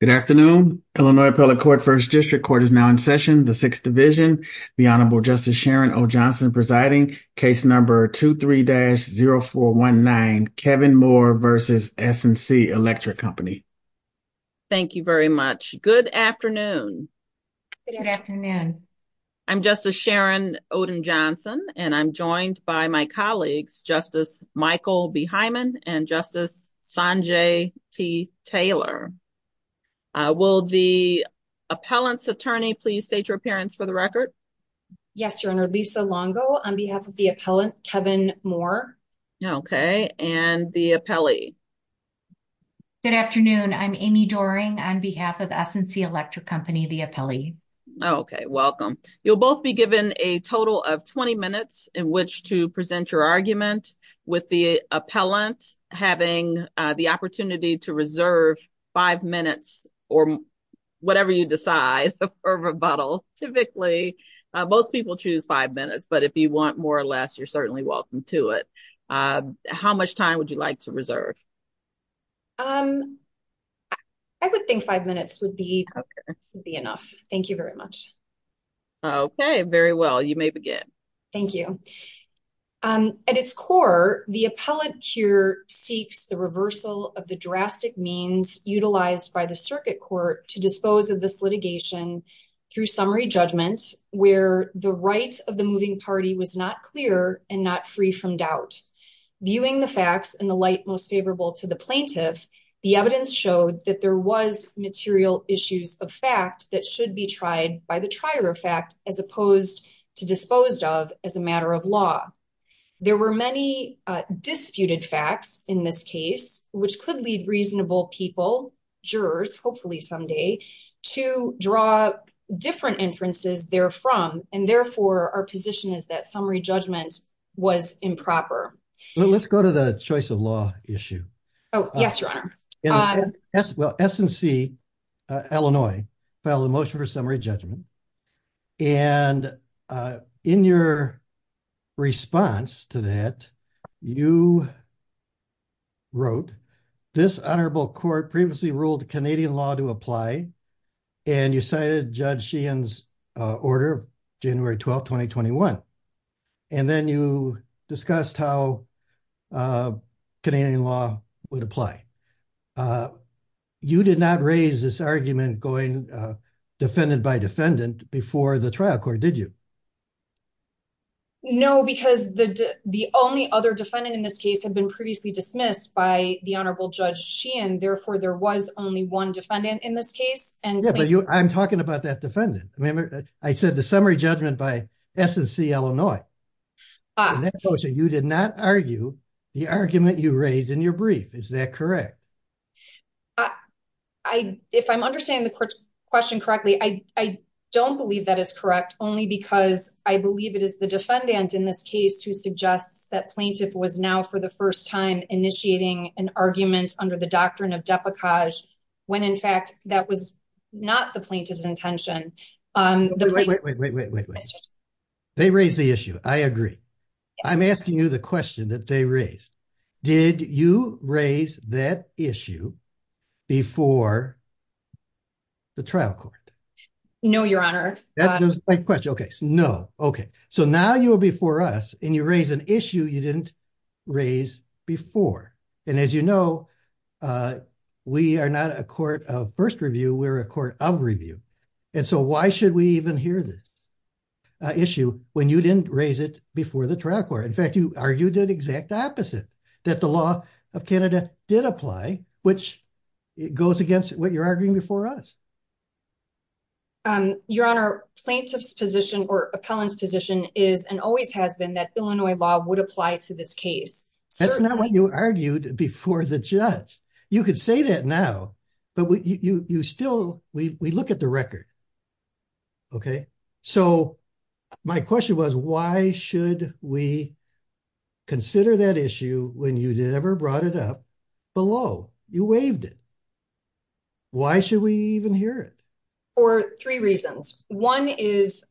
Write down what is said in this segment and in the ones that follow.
Good afternoon, Illinois Appellate Court, 1st District Court is now in session, the 6th Division. The Honorable Justice Sharon O. Johnson presiding, case number 23-0419, Kevin Moore v. S&C Electric Co. Thank you very much. Good afternoon. Good afternoon. I'm Justice Sharon Oden Johnson, and I'm joined by my colleagues, Justice Michael B. Hyman and Justice Sanjay T. Taylor. Will the appellant's attorney please state your appearance for the record? Yes, Your Honor. Lisa Longo on behalf of the appellant, Kevin Moore. Okay, and the appellee? Good afternoon. I'm Amy Doering on behalf of S&C Electric Co., the appellee. Okay, welcome. You'll both be given a total of 20 minutes in which to present your argument, with the appellant having the opportunity to reserve five minutes, or whatever you decide, for rebuttal. Typically, most people choose five minutes, but if you want more or less, you're certainly welcome to it. How much time would you like to reserve? I would think five minutes would be enough. Thank you very much. Okay, very well. You may begin. Thank you. There were many disputed facts in this case, which could lead reasonable people, jurors, hopefully someday, to draw different inferences therefrom, and therefore our position is that summary judgment was improper. Let's go to the choice of law issue. S&C Illinois filed a motion for summary judgment, and in your response to that, you wrote, This honorable court previously ruled Canadian law to apply, and you cited Judge Sheehan's order, January 12, 2021, and then you discussed how Canadian law would apply. You did not raise this argument going defendant by defendant before the trial court, did you? No, because the only other defendant in this case had been previously dismissed by the honorable Judge Sheehan, therefore there was only one defendant in this case. I'm talking about that defendant. I said the summary judgment by S&C Illinois. You did not argue the argument you raised in your brief. Is that correct? If I'm understanding the question correctly, I don't believe that is correct, only because I believe it is the defendant in this case who suggests that plaintiff was now for the first time initiating an argument under the doctrine of deprecage, when in fact that was not the plaintiff's intention. Wait, wait, wait, wait, wait. They raised the issue. I agree. I'm asking you the question that they raised. Did you raise that issue before the trial court? No, Your Honor. Okay, so now you are before us and you raise an issue you didn't raise before. And as you know, we are not a court of first review, we're a court of review. And so why should we even hear this issue when you didn't raise it before the trial court? In fact, you argued the exact opposite, that the law of Canada did apply, which goes against what you're arguing before us. Your Honor, plaintiff's position or appellant's position is and always has been that Illinois law would apply to this case. That's not what you argued before the judge. You could say that now, but you still, we look at the record. Okay, so my question was, why should we consider that issue when you never brought it up below? You waived it. Why should we even hear it? For three reasons. One is,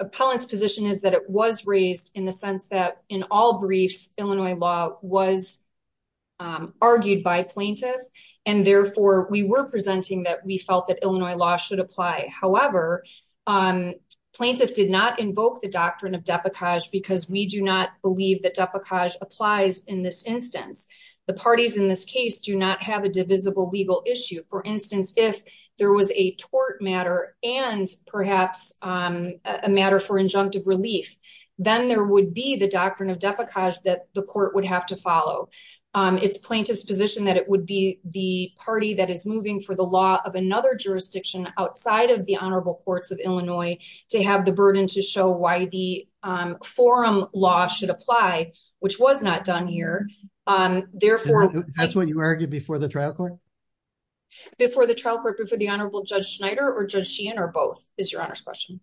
appellant's position is that it was raised in the sense that in all briefs, Illinois law was argued by plaintiff. And therefore, we were presenting that we felt that Illinois law should apply. However, plaintiff did not invoke the doctrine of deprecage because we do not believe that deprecage applies in this instance. The parties in this case do not have a divisible legal issue. For instance, if there was a tort matter and perhaps a matter for injunctive relief, then there would be the doctrine of deprecage that the court would have to follow. It's plaintiff's position that it would be the party that is moving for the law of another jurisdiction outside of the Honorable Courts of Illinois to have the burden to show why the forum law should apply, which was not done here. That's what you argued before the trial court? Before the trial court, before the Honorable Judge Schneider or Judge Sheehan or both, is your Honor's question.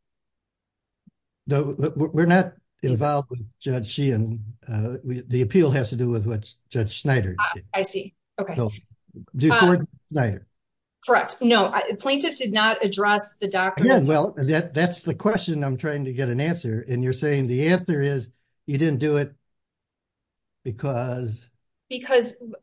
No, we're not involved with Judge Sheehan. The appeal has to do with Judge Schneider. I see. Okay. Correct. No, plaintiff did not address the doctrine. Well, that's the question I'm trying to get an answer. And you're saying the answer is you didn't do it because... But that's the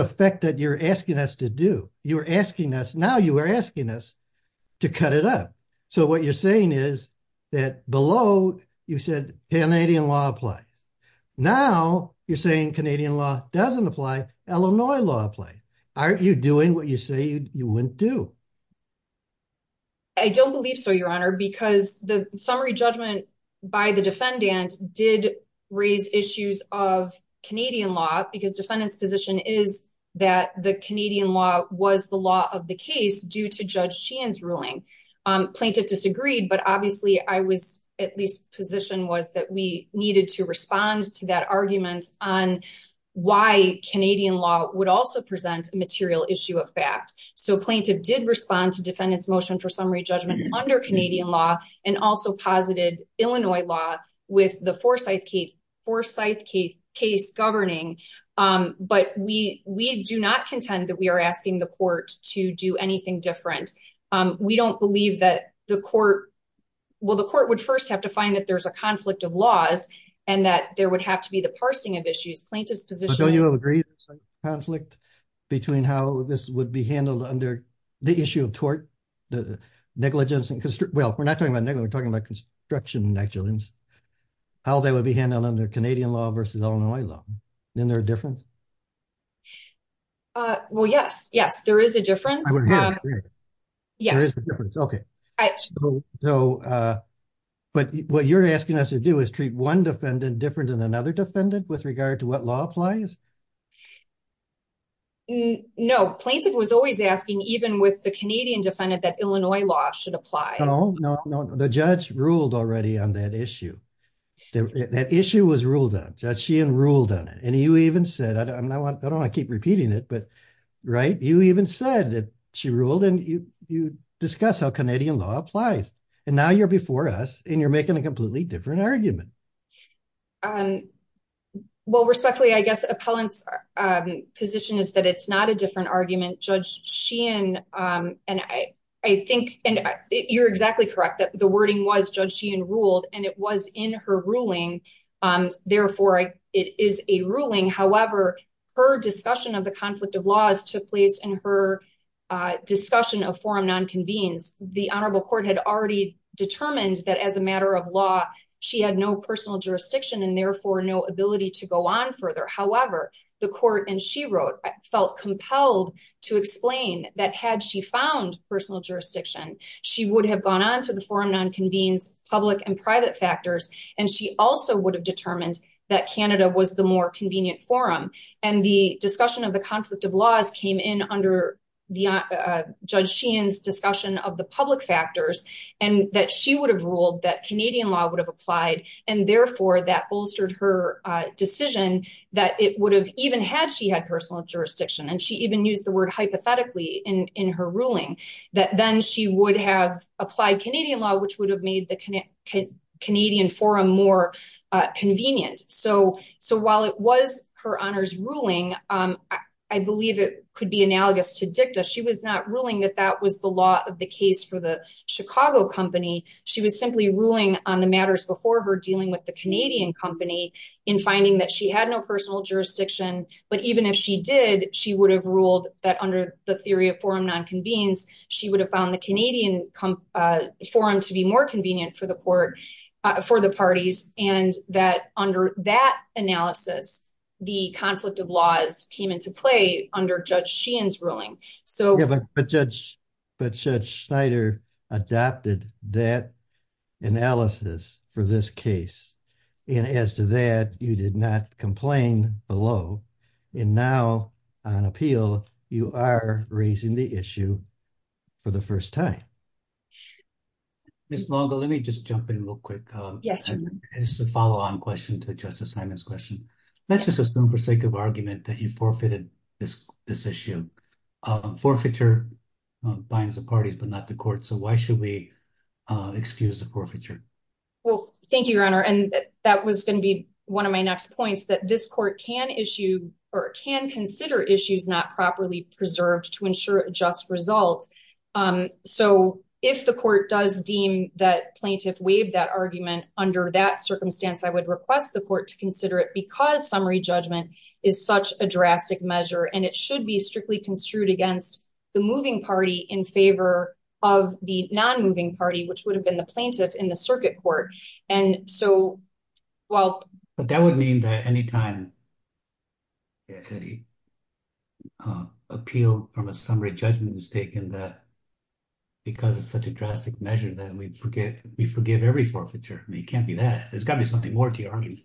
effect that you're asking us to do. You're asking us, now you are asking us to cut it up. So what you're saying is that below you said Canadian law applies. Now you're saying Canadian law doesn't apply, Illinois law applies. Aren't you doing what you say you wouldn't do? I don't believe so, Your Honor, because the summary judgment by the defendant did raise issues of Canadian law because defendant's position is that the Canadian law was the law of the case due to Judge Sheehan's ruling. Plaintiff disagreed, but obviously I was at least position was that we needed to respond to that argument on why Canadian law would also present a material issue of fact. So plaintiff did respond to defendant's motion for summary judgment under Canadian law and also posited Illinois law with the Forsyth case governing. But we do not contend that we are asking the court to do anything different. We don't believe that the court... Well, the court would first have to find that there's a conflict of laws and that there would have to be the parsing of issues. Plaintiff's position... ...conflict between how this would be handled under the issue of tort, the negligence... Well, we're not talking about negligence, we're talking about construction negligence, how that would be handled under Canadian law versus Illinois law. Isn't there a difference? Well, yes, yes, there is a difference. Yes. Okay. But what you're asking us to do is treat one defendant different than another defendant with regard to what law applies? No, plaintiff was always asking, even with the Canadian defendant, that Illinois law should apply. No, no, no. The judge ruled already on that issue. That issue was ruled on. Judge Sheehan ruled on it. And you even said, I don't want to keep repeating it, but right, you even said that she ruled and you discuss how Canadian law applies. And now you're before us and you're making a completely different argument. Well, respectfully, I guess appellant's position is that it's not a different argument. Judge Sheehan, and I think you're exactly correct that the wording was Judge Sheehan ruled and it was in her ruling. Therefore, it is a ruling. However, her discussion of the conflict of laws took place in her discussion of forum non-convenes. The Honorable Court had already determined that as a matter of law, she had no personal jurisdiction and therefore no ability to go on further. However, the court, and she wrote, felt compelled to explain that had she found personal jurisdiction, she would have gone on to the forum non-convenes, public and private factors, and she also would have determined that Canada was the more convenient forum. And the discussion of the conflict of laws came in under Judge Sheehan's discussion of the public factors and that she would have ruled that Canadian law would have applied. And therefore, that bolstered her decision that it would have even had she had personal jurisdiction and she even used the word hypothetically in her ruling that then she would have applied Canadian law, which would have made the Canadian forum more convenient. So, so while it was her honors ruling, I believe it could be analogous to dicta. She was not ruling that that was the law of the case for the Chicago company. She was simply ruling on the matters before her dealing with the Canadian company in finding that she had no personal jurisdiction. But even if she did, she would have ruled that under the theory of forum non-convenes, she would have found the Canadian forum to be more convenient for the court, for the parties, and that under that analysis, the conflict of laws came into play under Judge Sheehan's ruling. But Judge Schneider adopted that analysis for this case. And as to that, you did not complain below. And now on appeal, you are raising the issue for the first time. Ms. Longo, let me just jump in real quick. Yes, sir. It's a follow on question to Justice Simon's question. That's just a spoon for sake of argument that he forfeited this issue. Forfeiture binds the parties, but not the court. So why should we excuse the forfeiture? Well, thank you, Your Honor. And that was going to be one of my next points, that this court can issue or can consider issues not properly preserved to ensure a just result. So if the court does deem that plaintiff waived that argument, under that circumstance, I would request the court to consider it because summary judgment is such a drastic measure. And it should be strictly construed against the moving party in favor of the non-moving party, which would have been the plaintiff in the circuit court. But that would mean that any time an appeal from a summary judgment is taken, that because it's such a drastic measure, that we forgive every forfeiture. It can't be that. There's got to be something more to your argument.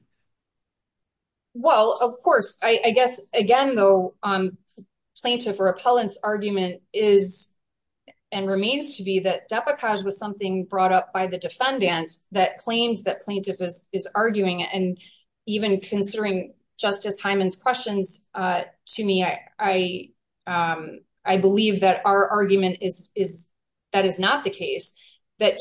Well, of course, I guess, again, though, plaintiff or appellant's argument is and remains to be that Depakaj was something brought up by the defendant that claims that plaintiff is arguing. And even considering Justice Hyman's questions to me, I believe that our argument is that is not the case. And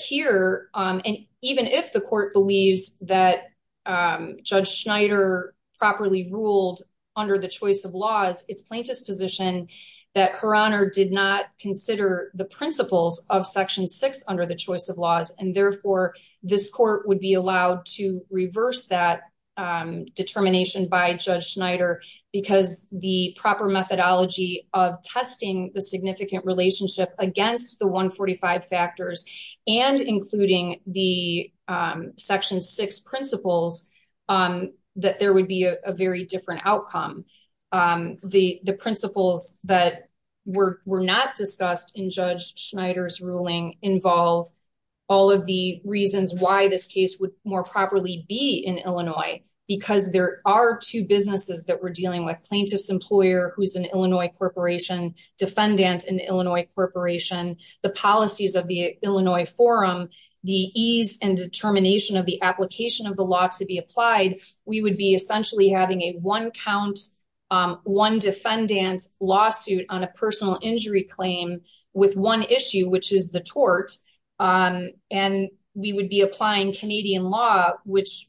even if the court believes that Judge Schneider properly ruled under the choice of laws, it's plaintiff's position that Her Honor did not consider the principles of Section 6 under the choice of laws. And therefore, this court would be allowed to reverse that determination by Judge Schneider because the proper methodology of testing the significant relationship against the 145 factors and including the Section 6 principles, that there would be a very different outcome. The principles that were not discussed in Judge Schneider's ruling involve all of the reasons why this case would more properly be in Illinois, because there are two businesses that we're dealing with plaintiff's employer, who's an Illinois corporation, defendant, an Illinois corporation, the policies of the Illinois forum, the ease and determination of the application of the law to be applied. We would be essentially having a one count, one defendant's lawsuit on a personal injury claim with one issue, which is the tort. And we would be applying Canadian law, which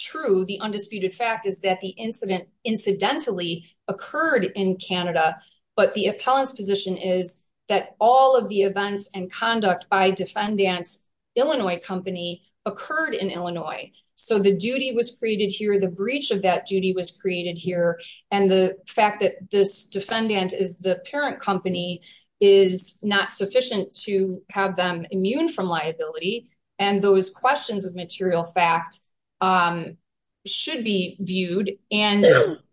true, the undisputed fact is that the incident incidentally occurred in Canada. But the appellant's position is that all of the events and conduct by defendant's Illinois company occurred in Illinois. So the duty was created here, the breach of that duty was created here. And the fact that this defendant is the parent company is not sufficient to have them immune from liability. And those questions of material fact should be viewed. And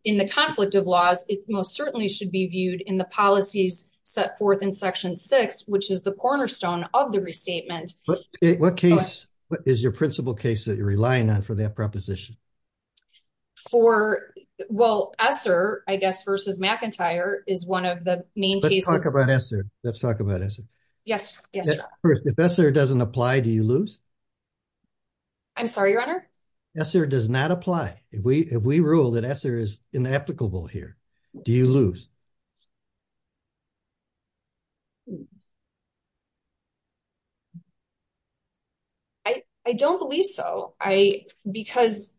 in the conflict of laws, it most certainly should be viewed in the policies set forth in Section 6, which is the cornerstone of the restatement. What is your principal case that you're relying on for that proposition? For, well, ESSER, I guess, versus McIntyre is one of the main cases. Let's talk about ESSER. Yes. If ESSER doesn't apply, do you lose? I'm sorry, Your Honor? ESSER does not apply. If we rule that ESSER is inapplicable here, do you lose? I don't believe so. Because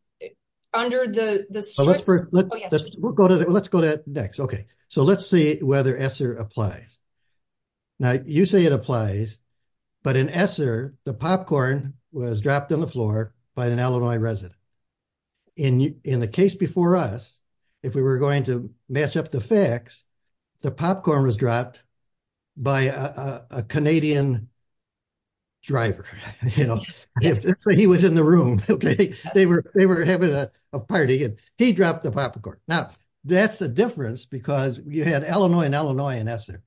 under the strict... Let's go to that next. Okay. So let's see whether ESSER applies. Now, you say it applies. But in ESSER, the popcorn was dropped on the floor by an Illinois resident. In the case before us, if we were going to match up the facts, the popcorn was dropped by a Canadian driver. That's why he was in the room. They were having a party and he dropped the popcorn. Now, that's the difference because you had Illinois and Illinois in ESSER.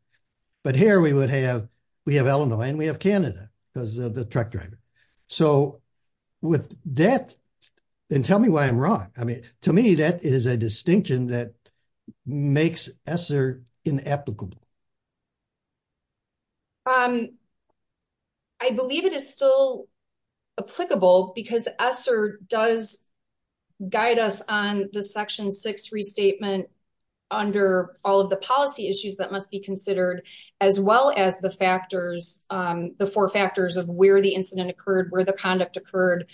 But here we have Illinois and we have Canada because of the truck driver. So with that... And tell me why I'm wrong. I mean, to me, that is a distinction that makes ESSER inapplicable. I believe it is still applicable because ESSER does guide us on the Section 6 restatement under all of the policy issues that must be considered, as well as the four factors of where the incident occurred, where the conduct occurred.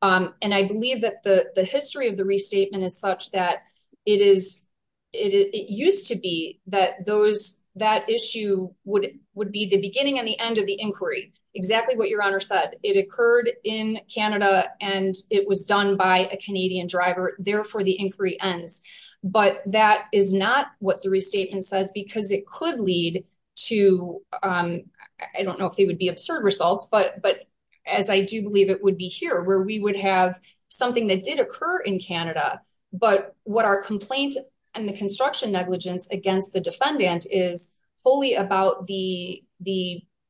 And I believe that the history of the restatement is such that it used to be that that issue would be the beginning and the end of the inquiry. Exactly what Your Honor said. It occurred in Canada and it was done by a Canadian driver. Therefore, the inquiry ends. But that is not what the restatement says because it could lead to, I don't know if they would be absurd results, but as I do believe it would be here where we would have something that did occur in Canada. But what our complaint and the construction negligence against the defendant is wholly about the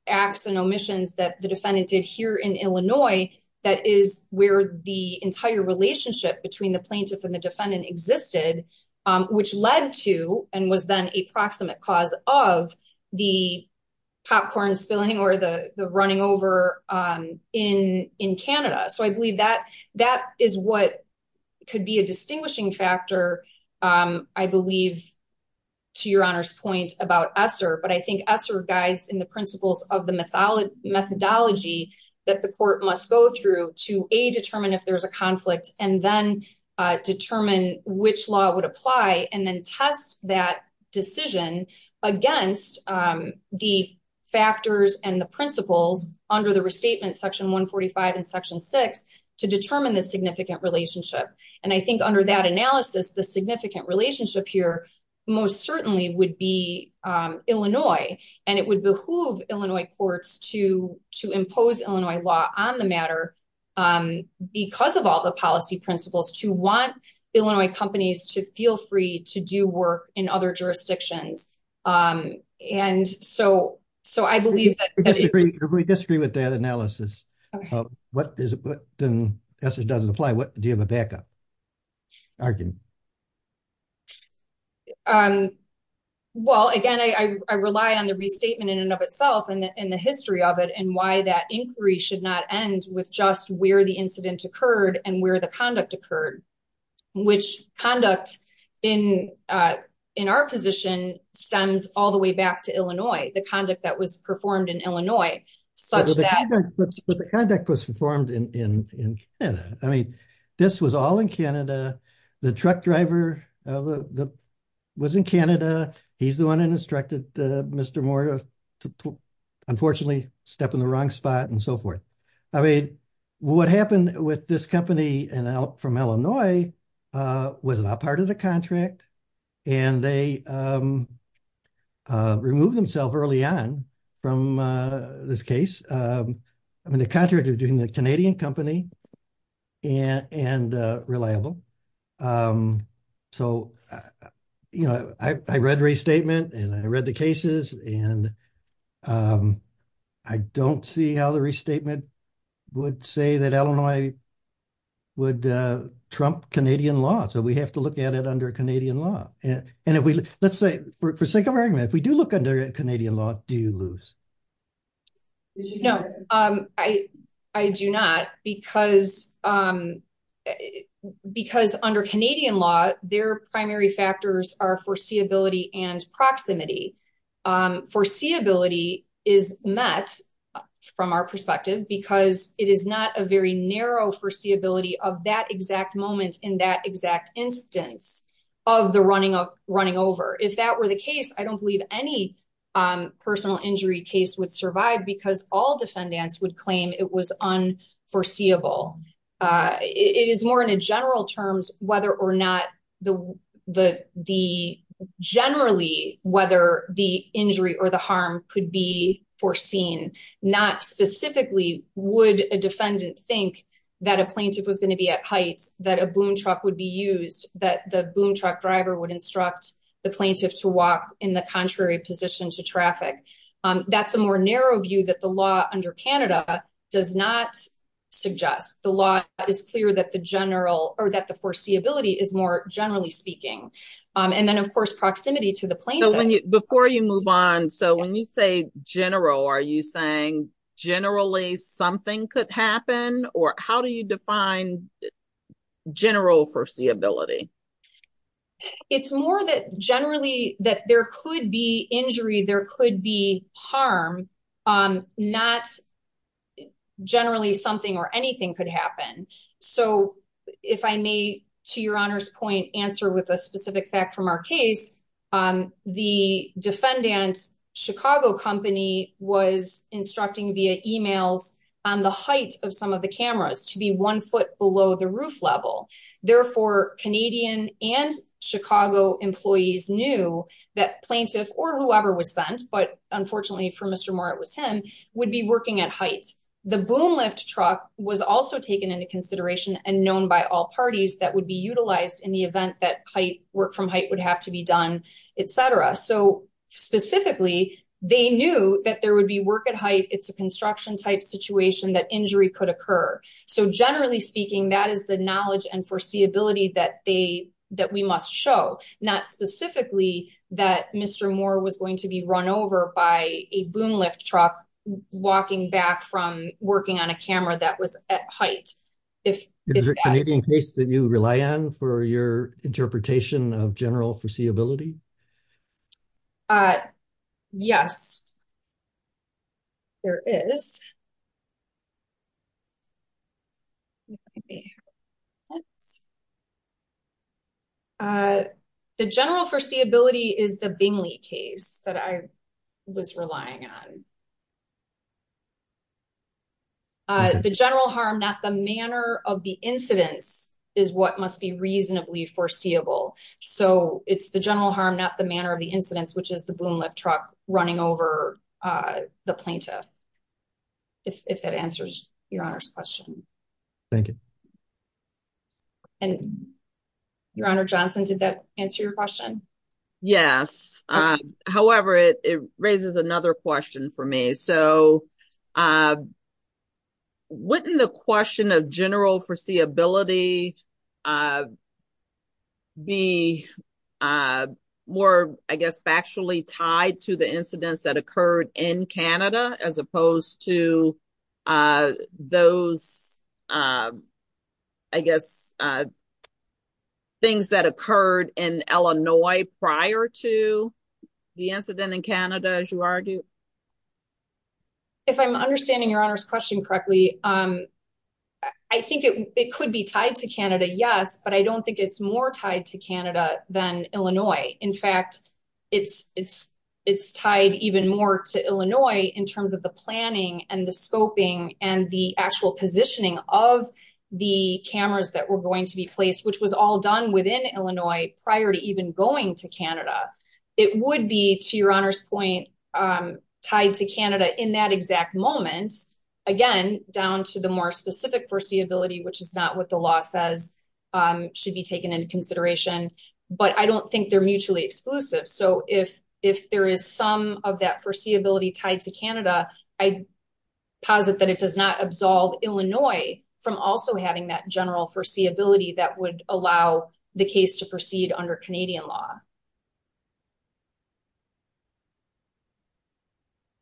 acts and omissions that the defendant did here in Illinois. That is where the entire relationship between the plaintiff and the defendant existed, which led to and was then a proximate cause of the popcorn spilling or the running over in Canada. So I believe that that is what could be a distinguishing factor, I believe, to Your Honor's point about ESSER. But I think ESSER guides in the principles of the methodology that the court must go through to, A, determine if there is a conflict and then determine which law would apply and then test that decision against the factors and the principles under the restatement, Section 145 and Section 6 to determine the significant relationship. And I think under that analysis, the significant relationship here most certainly would be Illinois, and it would behoove Illinois courts to impose Illinois law on the matter because of all the policy principles to want Illinois companies to feel free to do work in other jurisdictions. And so I believe that we disagree with that analysis. What is it? Then ESSER doesn't apply. Do you have a backup argument? Well, again, I rely on the restatement in and of itself and the history of it and why that inquiry should not end with just where the incident occurred and where the conduct occurred, which conduct in our position stems all the way back to Illinois, the conduct that was performed in Illinois. But the conduct was performed in Canada. I mean, this was all in Canada. The truck driver was in Canada. He's the one who instructed Mr. Moore to unfortunately step in the wrong spot and so forth. I mean, what happened with this company from Illinois was not part of the contract, and they removed themselves early on from this case. I mean, the contractor was doing the Canadian company and reliable. So, you know, I read the restatement and I read the cases and I don't see how the restatement would say that Illinois would trump Canadian law. So we have to look at it under Canadian law. And if we let's say for sake of argument, if we do look under Canadian law, do you lose? No, I do not, because under Canadian law, their primary factors are foreseeability and proximity. Foreseeability is met from our perspective because it is not a very narrow foreseeability of that exact moment in that exact instance of the running over. If that were the case, I don't believe any personal injury case would survive because all defendants would claim it was unforeseeable. It is more in a general terms, whether or not the generally whether the injury or the harm could be foreseen. Not specifically would a defendant think that a plaintiff was going to be at heights, that a boom truck would be used, that the boom truck driver would instruct the plaintiff to walk in the contrary position to traffic. That's a more narrow view that the law under Canada does not suggest. The law is clear that the general or that the foreseeability is more generally speaking. And then, of course, proximity to the plaintiff. Before you move on, so when you say general, are you saying generally something could happen or how do you define general foreseeability? It's more that generally that there could be injury, there could be harm, not generally something or anything could happen. So if I may, to your honor's point, answer with a specific fact from our case, the defendant's Chicago company was instructing via emails on the height of some of the cameras to be one foot below the roof level. Therefore, Canadian and Chicago employees knew that plaintiff or whoever was sent. But unfortunately for Mr. Moore, it was him would be working at heights. The boom lift truck was also taken into consideration and known by all parties that would be utilized in the event that height work from height would have to be done, etc. So specifically, they knew that there would be work at height. It's a construction type situation that injury could occur. So generally speaking, that is the knowledge and foreseeability that we must show. Not specifically that Mr. Moore was going to be run over by a boom lift truck walking back from working on a camera that was at height. Is there a Canadian case that you rely on for your interpretation of general foreseeability? Yes, there is. The general foreseeability is the Bingley case that I was relying on. The general harm, not the manner of the incidents, is what must be reasonably foreseeable. So it's the general harm, not the manner of the incidents, which is the boom lift truck running over the plaintiff. If that answers your honor's question. Thank you. And your honor, Johnson, did that answer your question? Yes. However, it raises another question for me. So wouldn't the question of general foreseeability be more, I guess, factually tied to the incidents that occurred in Canada as opposed to those, I guess, things that occurred in Illinois prior to the incident in Canada, as you argue? If I'm understanding your honor's question correctly, I think it could be tied to Canada, yes, but I don't think it's more tied to Canada than Illinois. In fact, it's tied even more to Illinois in terms of the planning and the scoping and the actual positioning of the cameras that were going to be placed, which was all done within Illinois prior to even going to Canada. It would be, to your honor's point, tied to Canada in that exact moment. Again, down to the more specific foreseeability, which is not what the law says should be taken into consideration. But I don't think they're mutually exclusive. So if there is some of that foreseeability tied to Canada, I posit that it does not absolve Illinois from also having that general foreseeability that would allow the case to proceed under Canadian law.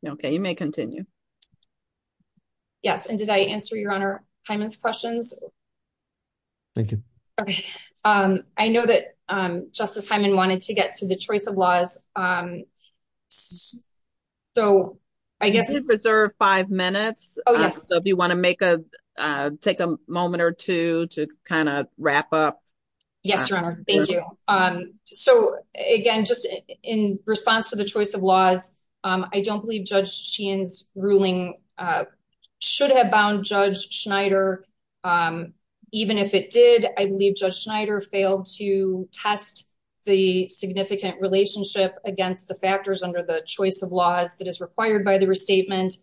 Okay, you may continue. Yes, and did I answer your honor Hyman's questions? Thank you. I know that Justice Hyman wanted to get to the choice of laws. So, I guess- You can preserve five minutes. Oh, yes. So if you want to take a moment or two to kind of wrap up. Yes, your honor. Thank you. So, again, just in response to the choice of laws, I don't believe Judge Sheehan's ruling should have bound Judge Schneider. Even if it did, I believe Judge Schneider failed to test the significant relationship against the factors under the choice of laws that is required by the restatement.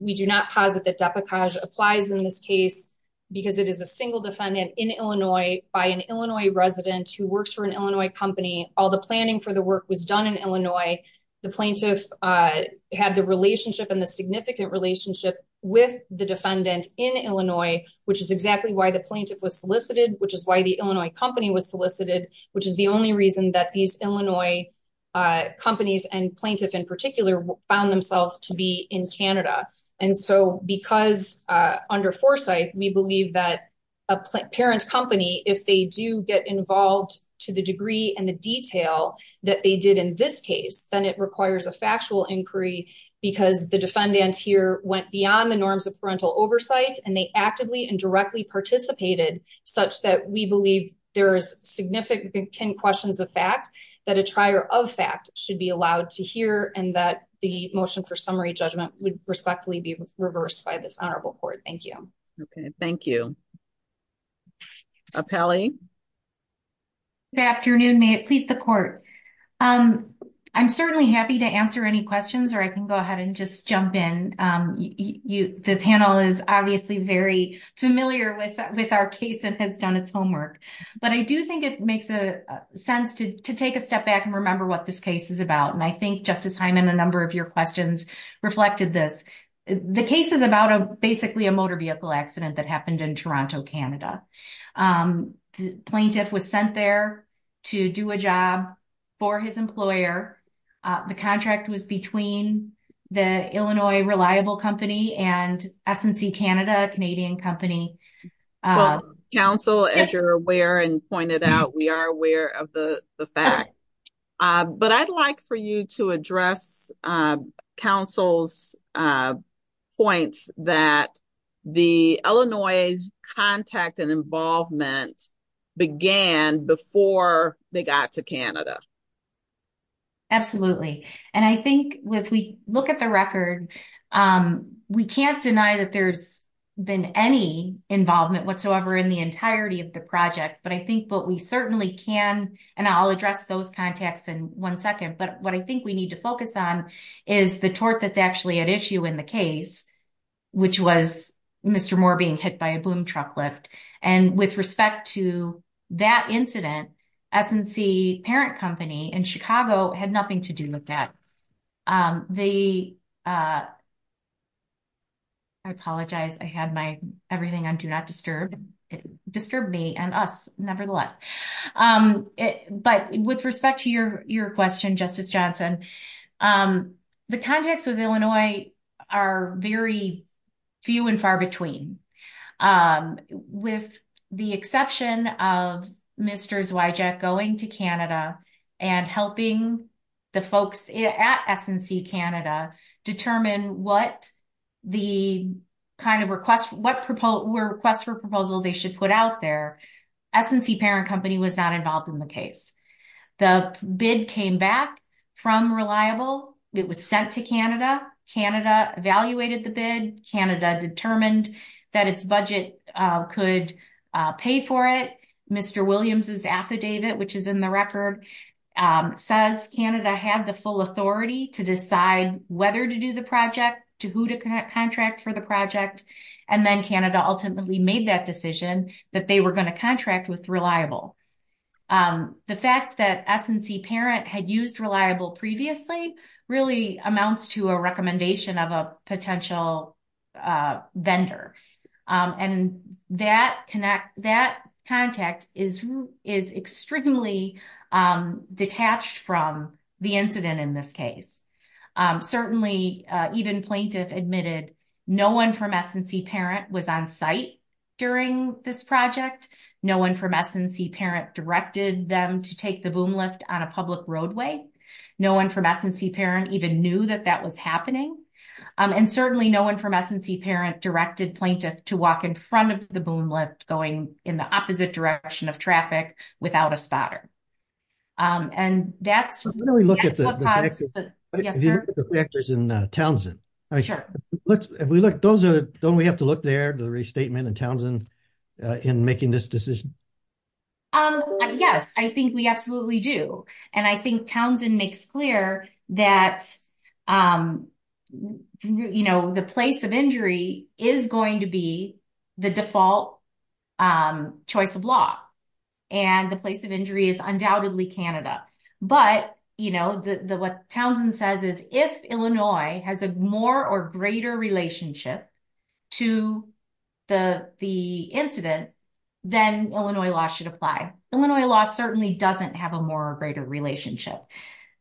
We do not posit that Depecage applies in this case because it is a single defendant in Illinois by an Illinois resident who works for an Illinois company. All the planning for the work was done in Illinois. The plaintiff had the relationship and the significant relationship with the defendant in Illinois, which is exactly why the plaintiff was solicited. Which is why the Illinois company was solicited, which is the only reason that these Illinois companies and plaintiff in particular found themselves to be in Canada. And so, because under foresight, we believe that a parent company, if they do get involved to the degree and the detail that they did in this case, then it requires a factual inquiry. Because the defendant here went beyond the norms of parental oversight and they actively and directly participated such that we believe there is significant questions of fact that a trier of fact should be allowed to hear and that the motion for summary judgment would respectfully be reversed by this Honorable Court. Thank you. Okay, thank you. Apelli? Good afternoon. May it please the Court. I'm certainly happy to answer any questions or I can go ahead and just jump in. The panel is obviously very familiar with our case and has done its homework. But I do think it makes sense to take a step back and remember what this case is about. And I think Justice Hyman, a number of your questions reflected this. The case is about a basically a motor vehicle accident that happened in Toronto, Canada. The plaintiff was sent there to do a job for his employer. The contract was between the Illinois Reliable Company and S&C Canada, a Canadian company. Counsel, as you're aware and pointed out, we are aware of the fact. But I'd like for you to address counsel's points that the Illinois contact and involvement began before they got to Canada. Absolutely. And I think if we look at the record, we can't deny that there's been any involvement whatsoever in the entirety of the project. But I think what we certainly can and I'll address those contacts in one second. But what I think we need to focus on is the tort that's actually at issue in the case, which was Mr. Moore being hit by a boom truck lift. And with respect to that incident, S&C parent company in Chicago had nothing to do with that. I apologize. I had my everything on do not disturb disturb me and us, nevertheless. But with respect to your question, Justice Johnson, the contacts with Illinois are very few and far between. With the exception of Mr. Zwijek going to Canada and helping the folks at S&C Canada determine what the kind of request, what were requests for proposal they should put out there, S&C parent company was not involved in the case. The bid came back from Reliable. It was sent to Canada. Canada evaluated the bid. Canada determined that its budget could pay for it. Mr. Williams' affidavit, which is in the record, says Canada had the full authority to decide whether to do the project, to who to contract for the project. And then Canada ultimately made that decision that they were going to contract with Reliable. The fact that S&C parent had used Reliable previously really amounts to a recommendation of a potential vendor. And that contact is extremely detached from the incident in this case. Certainly, even plaintiff admitted no one from S&C parent was on site during this project. No one from S&C parent directed them to take the boom lift on a public roadway. No one from S&C parent even knew that that was happening. And certainly no one from S&C parent directed plaintiff to walk in front of the boom lift going in the opposite direction of traffic without a spotter. When we look at the factors in Townsend, don't we have to look there at the restatement in Townsend in making this decision? Yes, I think we absolutely do. And I think Townsend makes clear that the place of injury is going to be the default choice of law. And the place of injury is undoubtedly Canada. But what Townsend says is if Illinois has a more or greater relationship to the incident, then Illinois law should apply. Illinois law certainly doesn't have a more or greater relationship.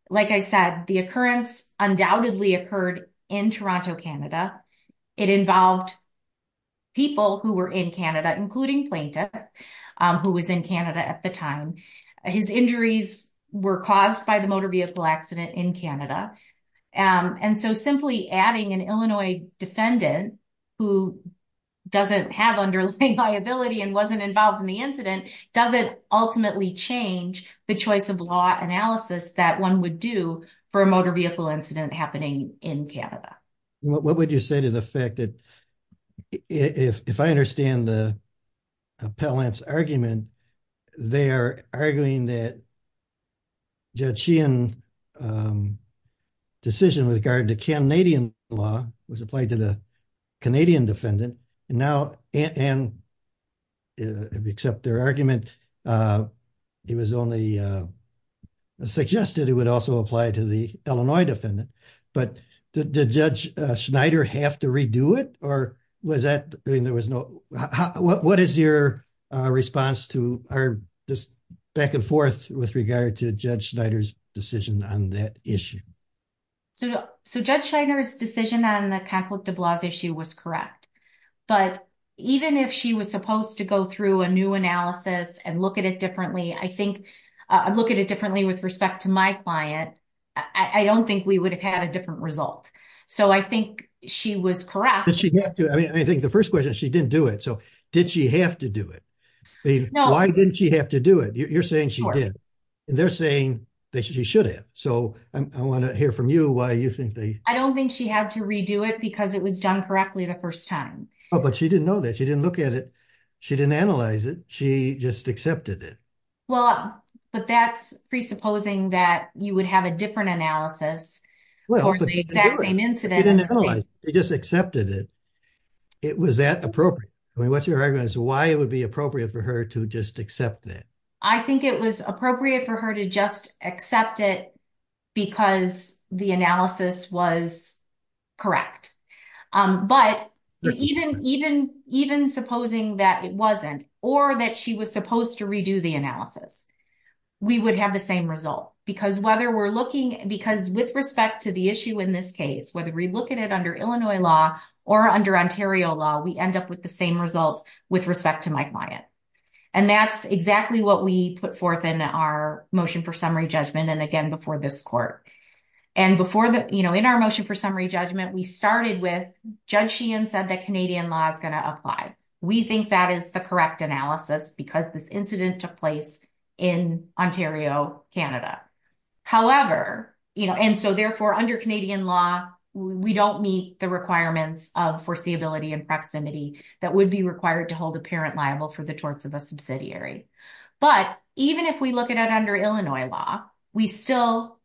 Like I said, the occurrence undoubtedly occurred in Toronto, Canada. It involved people who were in Canada, including plaintiff, who was in Canada at the time. His injuries were caused by the motor vehicle accident in Canada. And so simply adding an Illinois defendant who doesn't have underlying liability and wasn't involved in the incident doesn't ultimately change the choice of law analysis that one would do for a motor vehicle incident happening in Canada. What would you say to the fact that if I understand the appellant's argument, they are arguing that Judge Sheehan's decision with regard to Canadian law was applied to the Canadian defendant. And now, except their argument, it was only suggested it would also apply to the Illinois defendant. But did Judge Schneider have to redo it? What is your response back and forth with regard to Judge Schneider's decision on that issue? So Judge Schneider's decision on the conflict of laws issue was correct. But even if she was supposed to go through a new analysis and look at it differently, I think, look at it differently with respect to my client. I don't think we would have had a different result. So I think she was correct. I think the first question, she didn't do it. So did she have to do it? Why didn't she have to do it? You're saying she did. They're saying that she should have. So I want to hear from you why you think they. I don't think she had to redo it because it was done correctly the first time. Oh, but she didn't know that. She didn't look at it. She didn't analyze it. She just accepted it. Well, but that's presupposing that you would have a different analysis for the exact same incident. She just accepted it. It was that appropriate. I mean, what's your argument as to why it would be appropriate for her to just accept that? I think it was appropriate for her to just accept it because the analysis was correct. But even supposing that it wasn't or that she was supposed to redo the analysis, we would have the same result. Because with respect to the issue in this case, whether we look at it under Illinois law or under Ontario law, we end up with the same result with respect to my client. And that's exactly what we put forth in our motion for summary judgment and again before this court. And before that, you know, in our motion for summary judgment, we started with Judge Sheehan said that Canadian law is going to apply. We think that is the correct analysis because this incident took place in Ontario, Canada. However, you know, and so therefore under Canadian law, we don't meet the requirements of foreseeability and proximity that would be required to hold a parent liable for the torts of a subsidiary. But even if we look at it under Illinois law, we still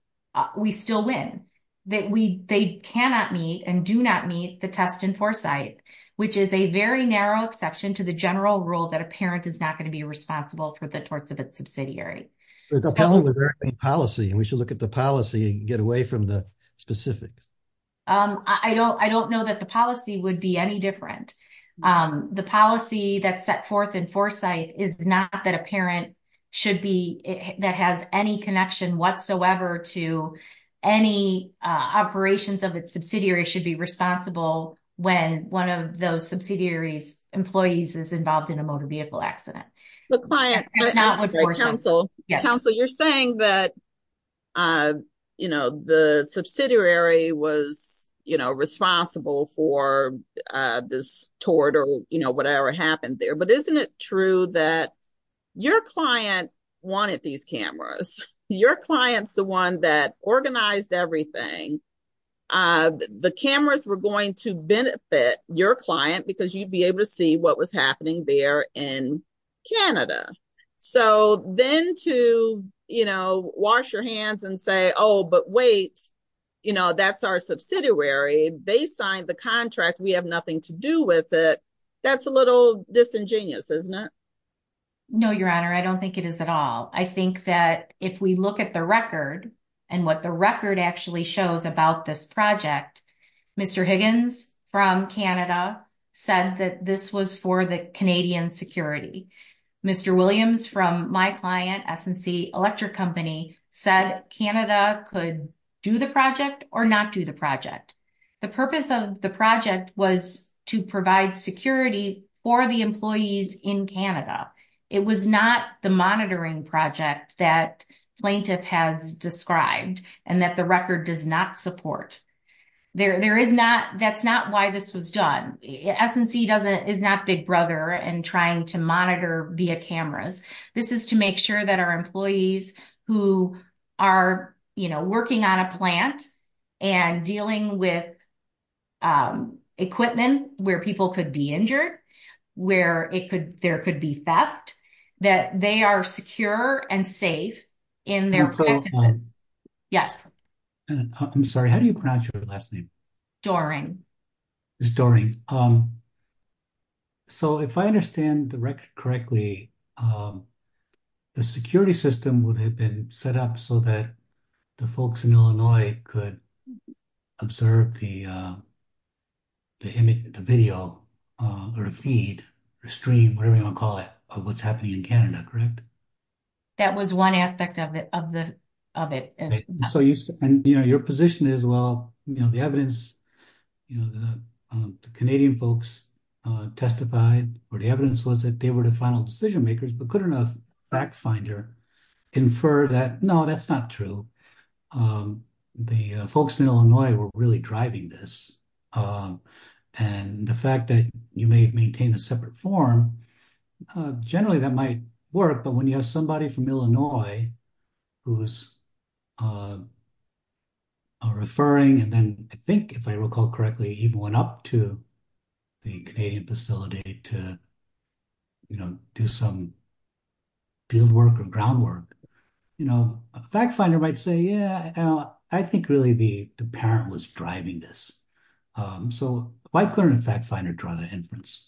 we still win that we they cannot meet and do not meet the test in foresight, which is a very narrow exception to the general rule that a parent is not going to be responsible for the torts of its subsidiary. It's a policy and we should look at the policy and get away from the specifics. I don't I don't know that the policy would be any different. The policy that set forth in foresight is not that a parent should be that has any connection whatsoever to any operations of its subsidiary should be responsible when one of those subsidiaries employees is involved in a motor vehicle accident. The client counsel counsel, you're saying that, you know, the subsidiary was, you know, responsible for this tort or, you know, whatever happened there. But isn't it true that your client wanted these cameras? Your client's the one that organized everything. The cameras were going to benefit your client because you'd be able to see what was happening there in Canada. So then to, you know, wash your hands and say, oh, but wait, you know, that's our subsidiary. They signed the contract. We have nothing to do with it. That's a little disingenuous, isn't it? No, Your Honor, I don't think it is at all. I think that if we look at the record and what the record actually shows about this project, Mr. Higgins from Canada said that this was for the Canadian security. Mr. Williams from my client, S&C Electric Company said Canada could do the project or not do the project. The purpose of the project was to provide security for the employees in Canada. It was not the monitoring project that plaintiff has described and that the record does not support. There is not. That's not why this was done. S&C is not Big Brother and trying to monitor via cameras. This is to make sure that our employees who are, you know, working on a plant and dealing with equipment where people could be injured, where there could be theft, that they are secure and safe in their practices. Yes. I'm sorry. How do you pronounce your last name? Doring. It's Doring. So if I understand the record correctly, the security system would have been set up so that the folks in Illinois could observe the video or the feed or stream, whatever you want to call it, of what's happening in Canada, correct? That was one aspect of it. And, you know, your position is, well, you know, the evidence, you know, the Canadian folks testified or the evidence was that they were the final decision makers, but couldn't a fact finder infer that, no, that's not true. The folks in Illinois were really driving this. And the fact that you may maintain a separate form, generally that might work, but when you have somebody from Illinois who's referring, and then I think if I recall correctly, even went up to the Canadian facility to, you know, do some field work or groundwork, you know, a fact finder might say, yeah, I think really the parent was driving this. So why couldn't a fact finder draw that inference?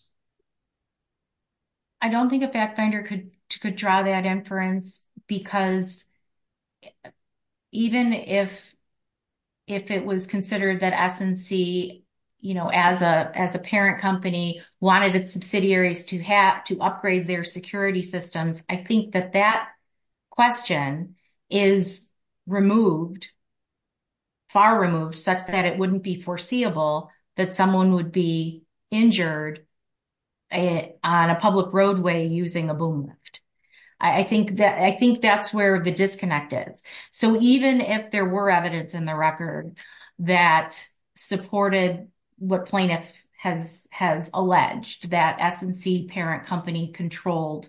I don't think a fact finder could draw that inference because even if it was considered that S&C, you know, as a parent company wanted its subsidiaries to upgrade their security systems, I think that that question is removed, far removed, such that it wouldn't be foreseeable that someone would be injured on a public roadway using a boom lift. I think that's where the disconnect is. So even if there were evidence in the record that supported what plaintiff has alleged that S&C parent company controlled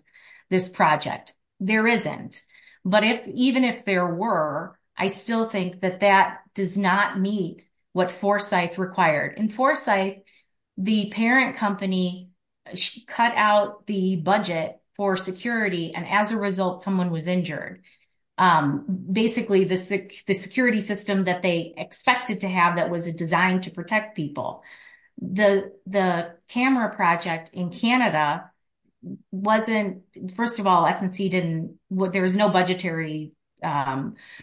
this project, there isn't. But even if there were, I still think that that does not meet what Forsyth required. In Forsyth, the parent company cut out the budget for security, and as a result, someone was injured. Basically, the security system that they expected to have that was designed to protect people. The camera project in Canada wasn't, first of all, S&C didn't, there was no budgetary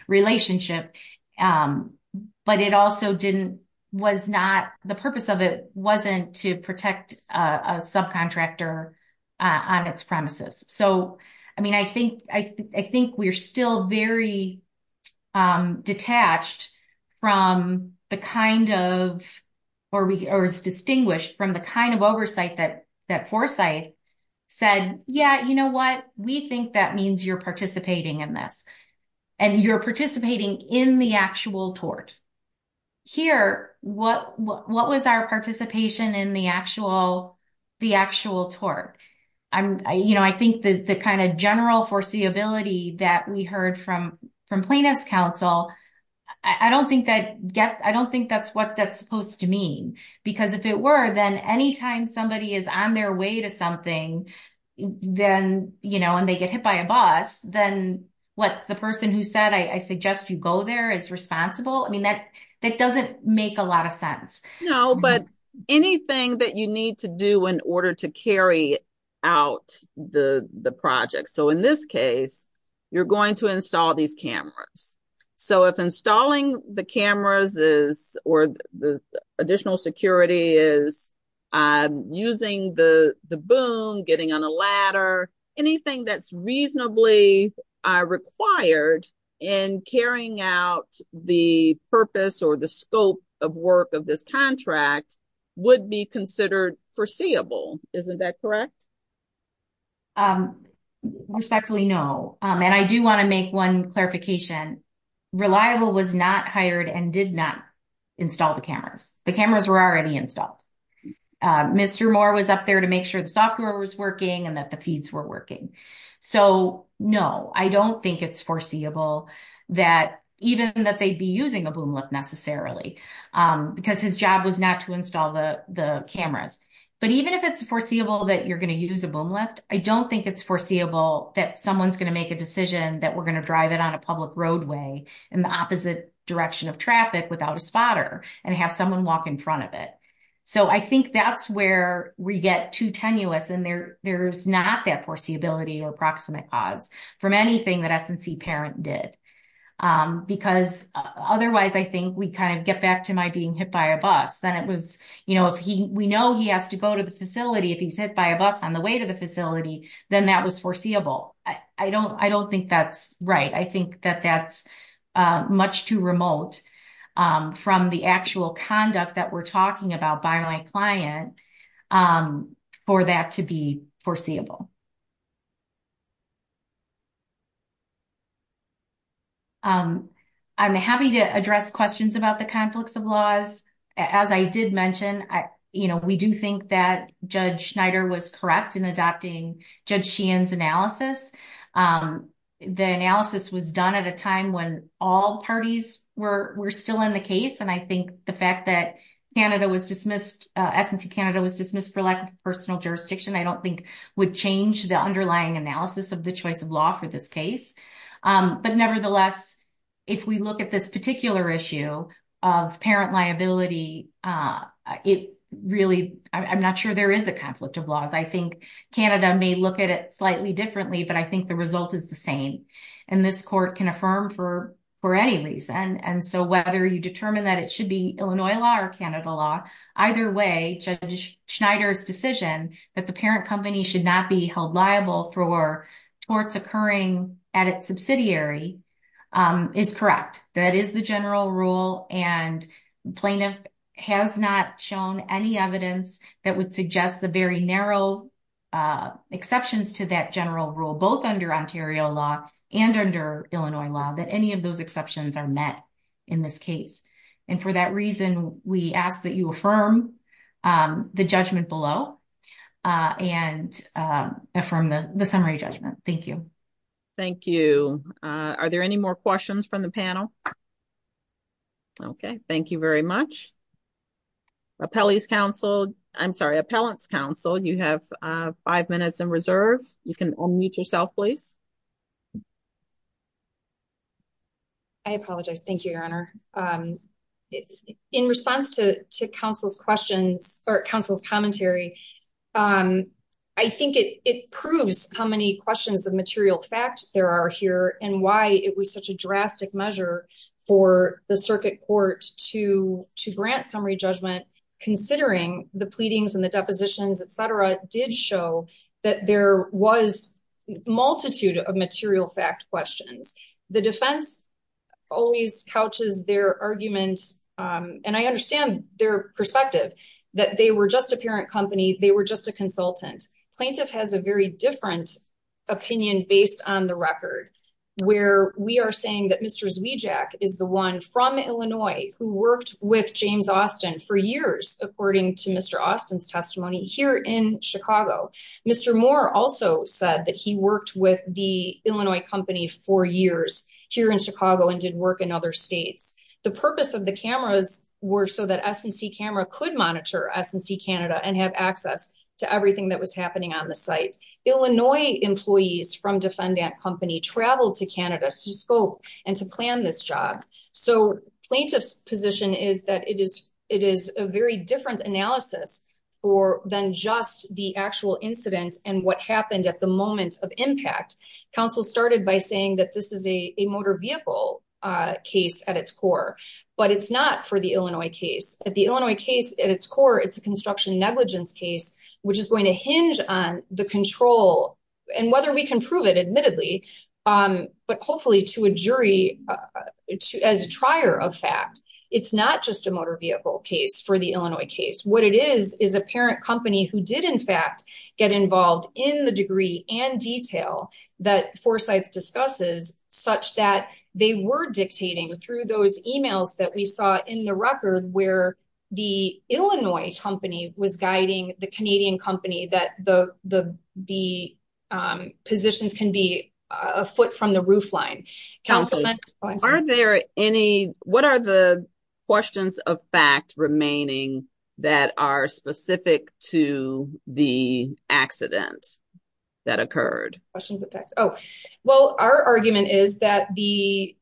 relationship, but it also didn't, was not, the purpose of it wasn't to protect a subcontractor on its premises. So, I mean, I think we're still very detached from the kind of, or is distinguished from the kind of oversight that Forsyth said, yeah, you know what, we think that means you're participating in this, and you're participating in the actual tort. Here, what was our participation in the actual tort? I think the kind of general foreseeability that we heard from plaintiff's counsel, I don't think that's what that's supposed to mean. Because if it were, then anytime somebody is on their way to something, and they get hit by a bus, then what the person who said, I suggest you go there is responsible. I mean, that doesn't make a lot of sense. No, but anything that you need to do in order to carry out the project. So in this case, you're going to install these cameras. So if installing the cameras is, or the additional security is using the boom, getting on a ladder, anything that's reasonably required in carrying out the purpose or the scope of work of this contract would be considered foreseeable. Isn't that correct? Respectfully, no. And I do want to make one clarification. Reliable was not hired and did not install the cameras. The cameras were already installed. Mr. Moore was up there to make sure the software was working and that the feeds were working. So, no, I don't think it's foreseeable that even that they'd be using a boom lift necessarily. Because his job was not to install the cameras. But even if it's foreseeable that you're going to use a boom lift, I don't think it's foreseeable that someone's going to make a decision that we're going to drive it on a public roadway in the opposite direction of traffic without a spotter and have someone walk in front of it. So I think that's where we get too tenuous and there's not that foreseeability or approximate cause from anything that S&C Parent did. Because otherwise, I think we kind of get back to my being hit by a bus. Then it was, you know, if we know he has to go to the facility, if he's hit by a bus on the way to the facility, then that was foreseeable. I don't think that's right. I think that that's much too remote from the actual conduct that we're talking about by my client for that to be foreseeable. I'm happy to address questions about the conflicts of laws. As I did mention, you know, we do think that Judge Schneider was correct in adopting Judge Sheehan's analysis. The analysis was done at a time when all parties were still in the case. And I think the fact that S&C Canada was dismissed for lack of personal jurisdiction, I don't think would change the underlying analysis of the choice of law for this case. But nevertheless, if we look at this particular issue of parent liability, I'm not sure there is a conflict of laws. I think Canada may look at it slightly differently, but I think the result is the same. And this court can affirm for any reason. And so whether you determine that it should be Illinois law or Canada law, either way, Judge Schneider's decision that the parent company should not be held liable for torts occurring at its subsidiary is correct. That is the general rule and plaintiff has not shown any evidence that would suggest the very narrow exceptions to that general rule, both under Ontario law and under Illinois law, that any of those exceptions are met in this case. And for that reason, we ask that you affirm the judgment below and affirm the summary judgment. Thank you. Thank you. Are there any more questions from the panel? Okay, thank you very much. Appellant's counsel, you have five minutes in reserve. You can unmute yourself, please. I apologize. Thank you, Your Honor. In response to counsel's questions or counsel's commentary, I think it proves how many questions of material fact there are here and why it was such a drastic measure for the circuit court to grant summary judgment, considering the pleadings and the depositions, etc. did show that there was multitude of material fact questions. The defense always couches their arguments, and I understand their perspective, that they were just a parent company. They were just a consultant. Plaintiff has a very different opinion based on the record, where we are saying that Mr. Zwiejack is the one from Illinois who worked with James Austin for years, according to Mr. Austin's testimony here in Chicago. Mr. Moore also said that he worked with the Illinois company for years here in Chicago and did work in other states. The purpose of the cameras were so that S&C Camera could monitor S&C Canada and have access to everything that was happening on the site. Illinois employees from defendant company traveled to Canada to scope and to plan this job. Plaintiff's position is that it is a very different analysis than just the actual incident and what happened at the moment of impact. Counsel started by saying that this is a motor vehicle case at its core, but it's not for the Illinois case. At the Illinois case, at its core, it's a construction negligence case, which is going to hinge on the control and whether we can prove it admittedly, but hopefully to a jury as a trier of fact. It's not just a motor vehicle case for the Illinois case. What it is, is a parent company who did in fact get involved in the degree and detail that Forsyth discusses such that they were dictating through those emails that we saw in the record where the Illinois company was guiding the Canadian company that the positions can be afoot from the roofline. What are the questions of fact remaining that are specific to the accident that occurred? Well, our argument is that the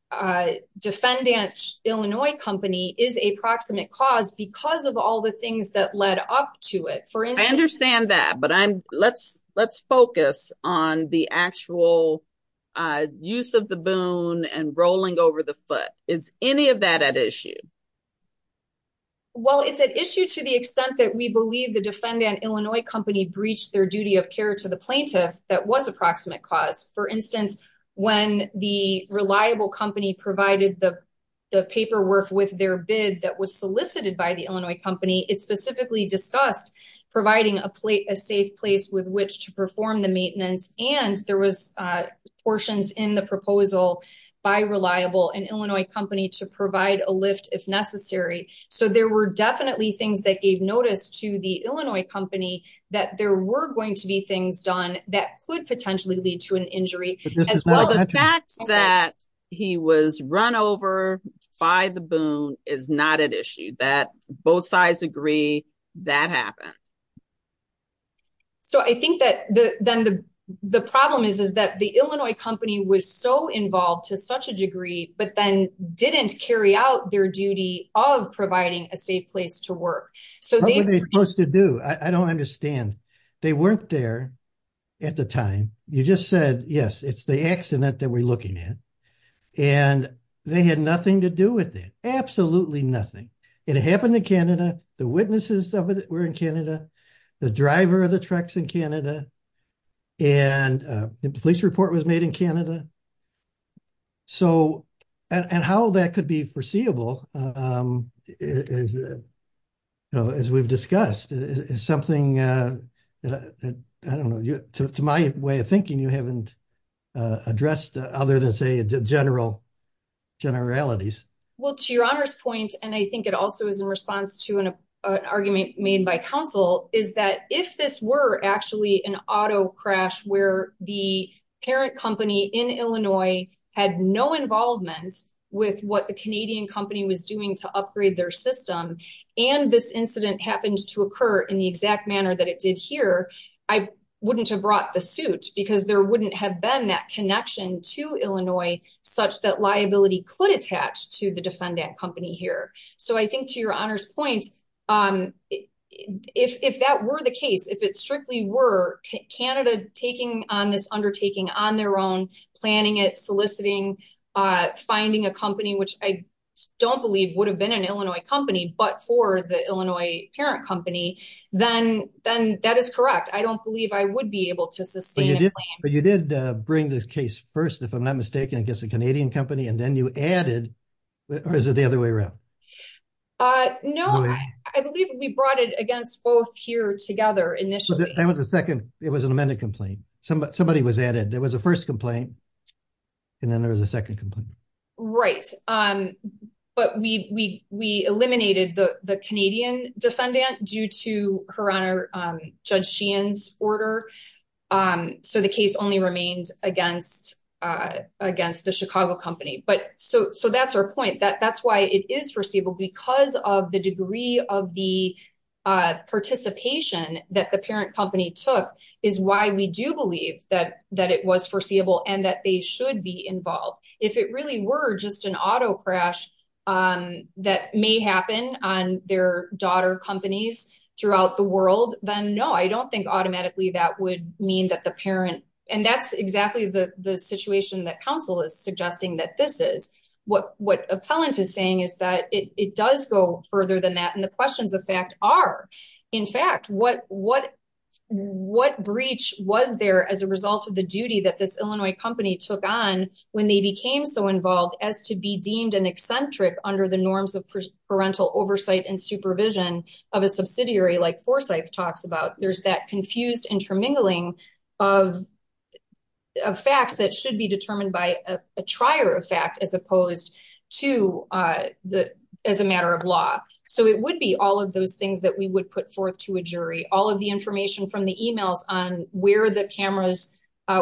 defendant Illinois company is a proximate cause because of all the things that led up to it. I understand that, but let's focus on the actual use of the boon and rolling over the foot. Is any of that at issue? Well, it's an issue to the extent that we believe the defendant Illinois company breached their duty of care to the plaintiff. That was approximate cause. For instance, when the reliable company provided the paperwork with their bid that was solicited by the Illinois company. It specifically discussed providing a safe place with which to perform the maintenance and there was portions in the proposal by reliable and Illinois company to provide a lift if necessary. So there were definitely things that gave notice to the Illinois company that there were going to be things done that could potentially lead to an injury. The fact that he was run over by the boon is not an issue that both sides agree that happened. So I think that then the problem is that the Illinois company was so involved to such a degree, but then didn't carry out their duty of providing a safe place to work. What were they supposed to do? I don't understand. They weren't there at the time. You just said, yes, it's the accident that we're looking at. And they had nothing to do with it. Absolutely nothing. It happened in Canada. The witnesses were in Canada. The driver of the trucks in Canada. And the police report was made in Canada. And how that could be foreseeable, as we've discussed, is something that, I don't know, to my way of thinking, you haven't addressed other than, say, general generalities. Well, to your honor's point, and I think it also is in response to an argument made by counsel, is that if this were actually an auto crash where the parent company in Illinois had no involvement with what the Canadian company was doing to upgrade their system, and this incident happened to occur in the exact manner that it did here, I wouldn't have brought the suit because there wouldn't have been that connection to Illinois, such that liability could attach to the defendant company here. So I think to your honor's point, if that were the case, if it strictly were Canada taking on this undertaking on their own, planning it, soliciting, finding a company, which I don't believe would have been an Illinois company, but for the Illinois parent company, then that is correct. I don't believe I would be able to sustain a plan. But you did bring this case first, if I'm not mistaken, against the Canadian company, and then you added, or is it the other way around? No, I believe we brought it against both here together initially. It was an amended complaint. Somebody was added. There was a first complaint, and then there was a second complaint. Right. But we eliminated the Canadian defendant due to her honor, Judge Sheehan's order. So the case only remained against the Chicago company. So that's our point, that that's why it is foreseeable because of the degree of the participation that the parent company took is why we do believe that it was foreseeable and that they should be involved. If it really were just an auto crash that may happen on their daughter companies throughout the world, then no, I don't think automatically that would mean that the parent, and that's exactly the situation that counsel is suggesting that this is. What appellant is saying is that it does go further than that, and the questions of fact are, in fact, what breach was there as a result of the duty that this Illinois company took on when they became so involved as to be deemed an eccentric under the norms of parental oversight and supervision of a subsidiary like Forsyth talks about. There's that confused intermingling of facts that should be determined by a trier of fact as opposed to as a matter of law. So it would be all of those things that we would put forth to a jury, all of the information from the emails on where the cameras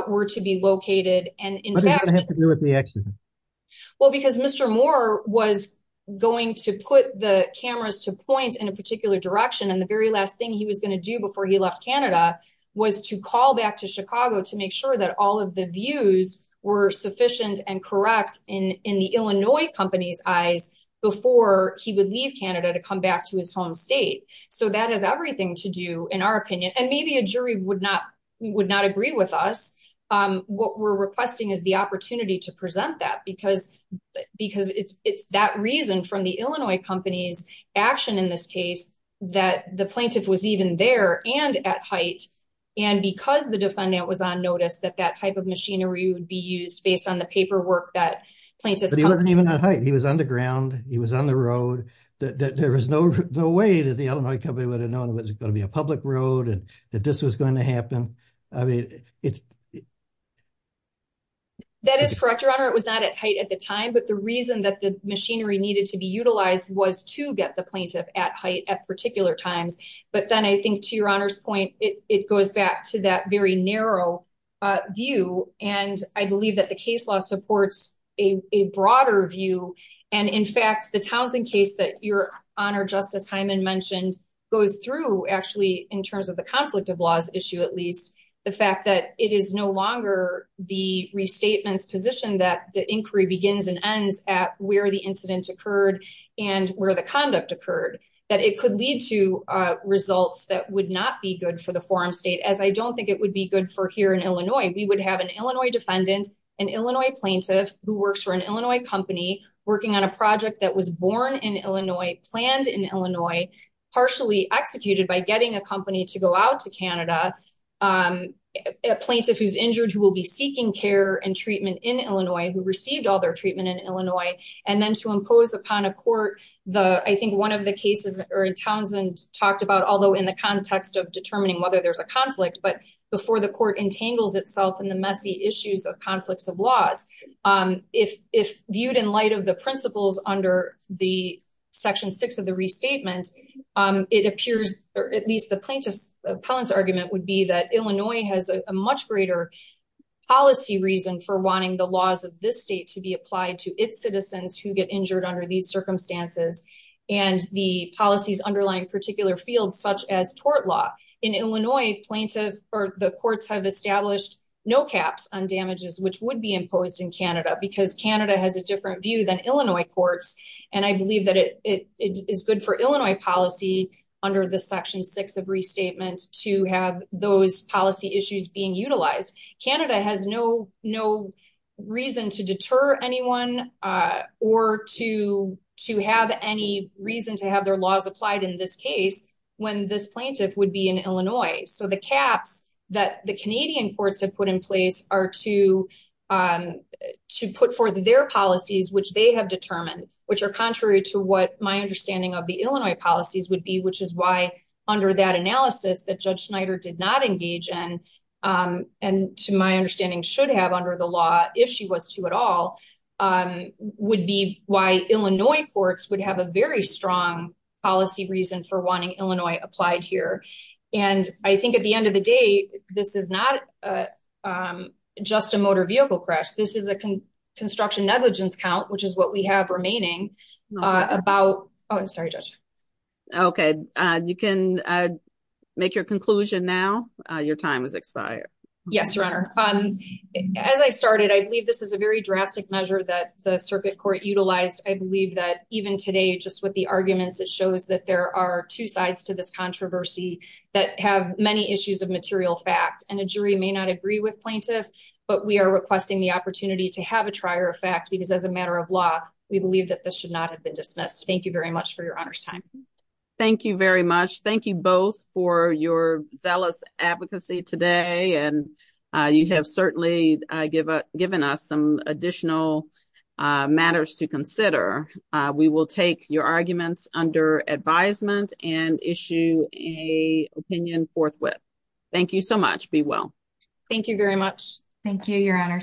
were to be located. What does that have to do with the accident? Well, because Mr. Moore was going to put the cameras to point in a particular direction, and the very last thing he was going to do before he left Canada was to call back to Chicago to make sure that all of the views were sufficient and correct in the Illinois company's eyes before he would leave Canada to come back to his home state. So that has everything to do, in our opinion, and maybe a jury would not agree with us. What we're requesting is the opportunity to present that because it's that reason from the Illinois company's action in this case that the plaintiff was even there and at height. And because the defendant was on notice that that type of machinery would be used based on the paperwork that plaintiffs. He wasn't even at height. He was on the ground. He was on the road that there was no way that the Illinois company would have known it was going to be a public road and that this was going to happen. That is correct, Your Honor. It was not at height at the time, but the reason that the machinery needed to be utilized was to get the plaintiff at height at particular times. But then I think to Your Honor's point, it goes back to that very narrow view, and I believe that the case law supports a broader view. And in fact, the Townsend case that Your Honor Justice Hyman mentioned goes through actually in terms of the conflict of laws issue, at least the fact that it is no longer the restatements position that the inquiry begins and ends at where the incident occurred and where the conduct occurred. That it could lead to results that would not be good for the forum state as I don't think it would be good for here in Illinois. We would have an Illinois defendant, an Illinois plaintiff who works for an Illinois company working on a project that was born in Illinois, planned in Illinois, partially executed by getting a company to go out to Canada. A plaintiff who's injured who will be seeking care and treatment in Illinois who received all their treatment in Illinois, and then to impose upon a court. I think one of the cases in Townsend talked about, although in the context of determining whether there's a conflict, but before the court entangles itself in the messy issues of conflicts of laws. If viewed in light of the principles under the section six of the restatement, it appears, or at least the plaintiff's argument would be that Illinois has a much greater policy reason for wanting the laws of this state to be applied to its citizens who get injured under these circumstances. And the policies underlying particular fields, such as tort law in Illinois plaintiff or the courts have established no caps on damages, which would be imposed in Canada because Canada has a different view than Illinois courts. And I believe that it is good for Illinois policy under the section six of restatement to have those policy issues being utilized. Canada has no reason to deter anyone or to have any reason to have their laws applied in this case, when this plaintiff would be in Illinois. So the caps that the Canadian courts have put in place are to put forth their policies, which they have determined, which are contrary to what my understanding of the Illinois policies would be, which is why under that analysis that Judge Schneider did not engage in, and to my understanding should have under the law, if she was to at all, would be why Illinois courts would have a very strong policy reason for wanting Illinois applied here. I think at the end of the day, this is not just a motor vehicle crash. This is a construction negligence count, which is what we have remaining about, oh, I'm sorry, Judge. Okay, you can make your conclusion now. Your time has expired. Yes, Your Honor. As I started, I believe this is a very drastic measure that the circuit court utilized. I believe that even today, just with the arguments, it shows that there are two sides to this controversy that have many issues of material fact, and a jury may not agree with plaintiff, but we are requesting the opportunity to have a trier of fact, because as a matter of law, we believe that this should not have been dismissed. Thank you very much for Your Honor's time. Thank you very much. Thank you both for your zealous advocacy today, and you have certainly given us some additional matters to consider. We will take your arguments under advisement and issue a opinion forthwith. Thank you so much. Be well. Thank you very much. Thank you, Your Honor.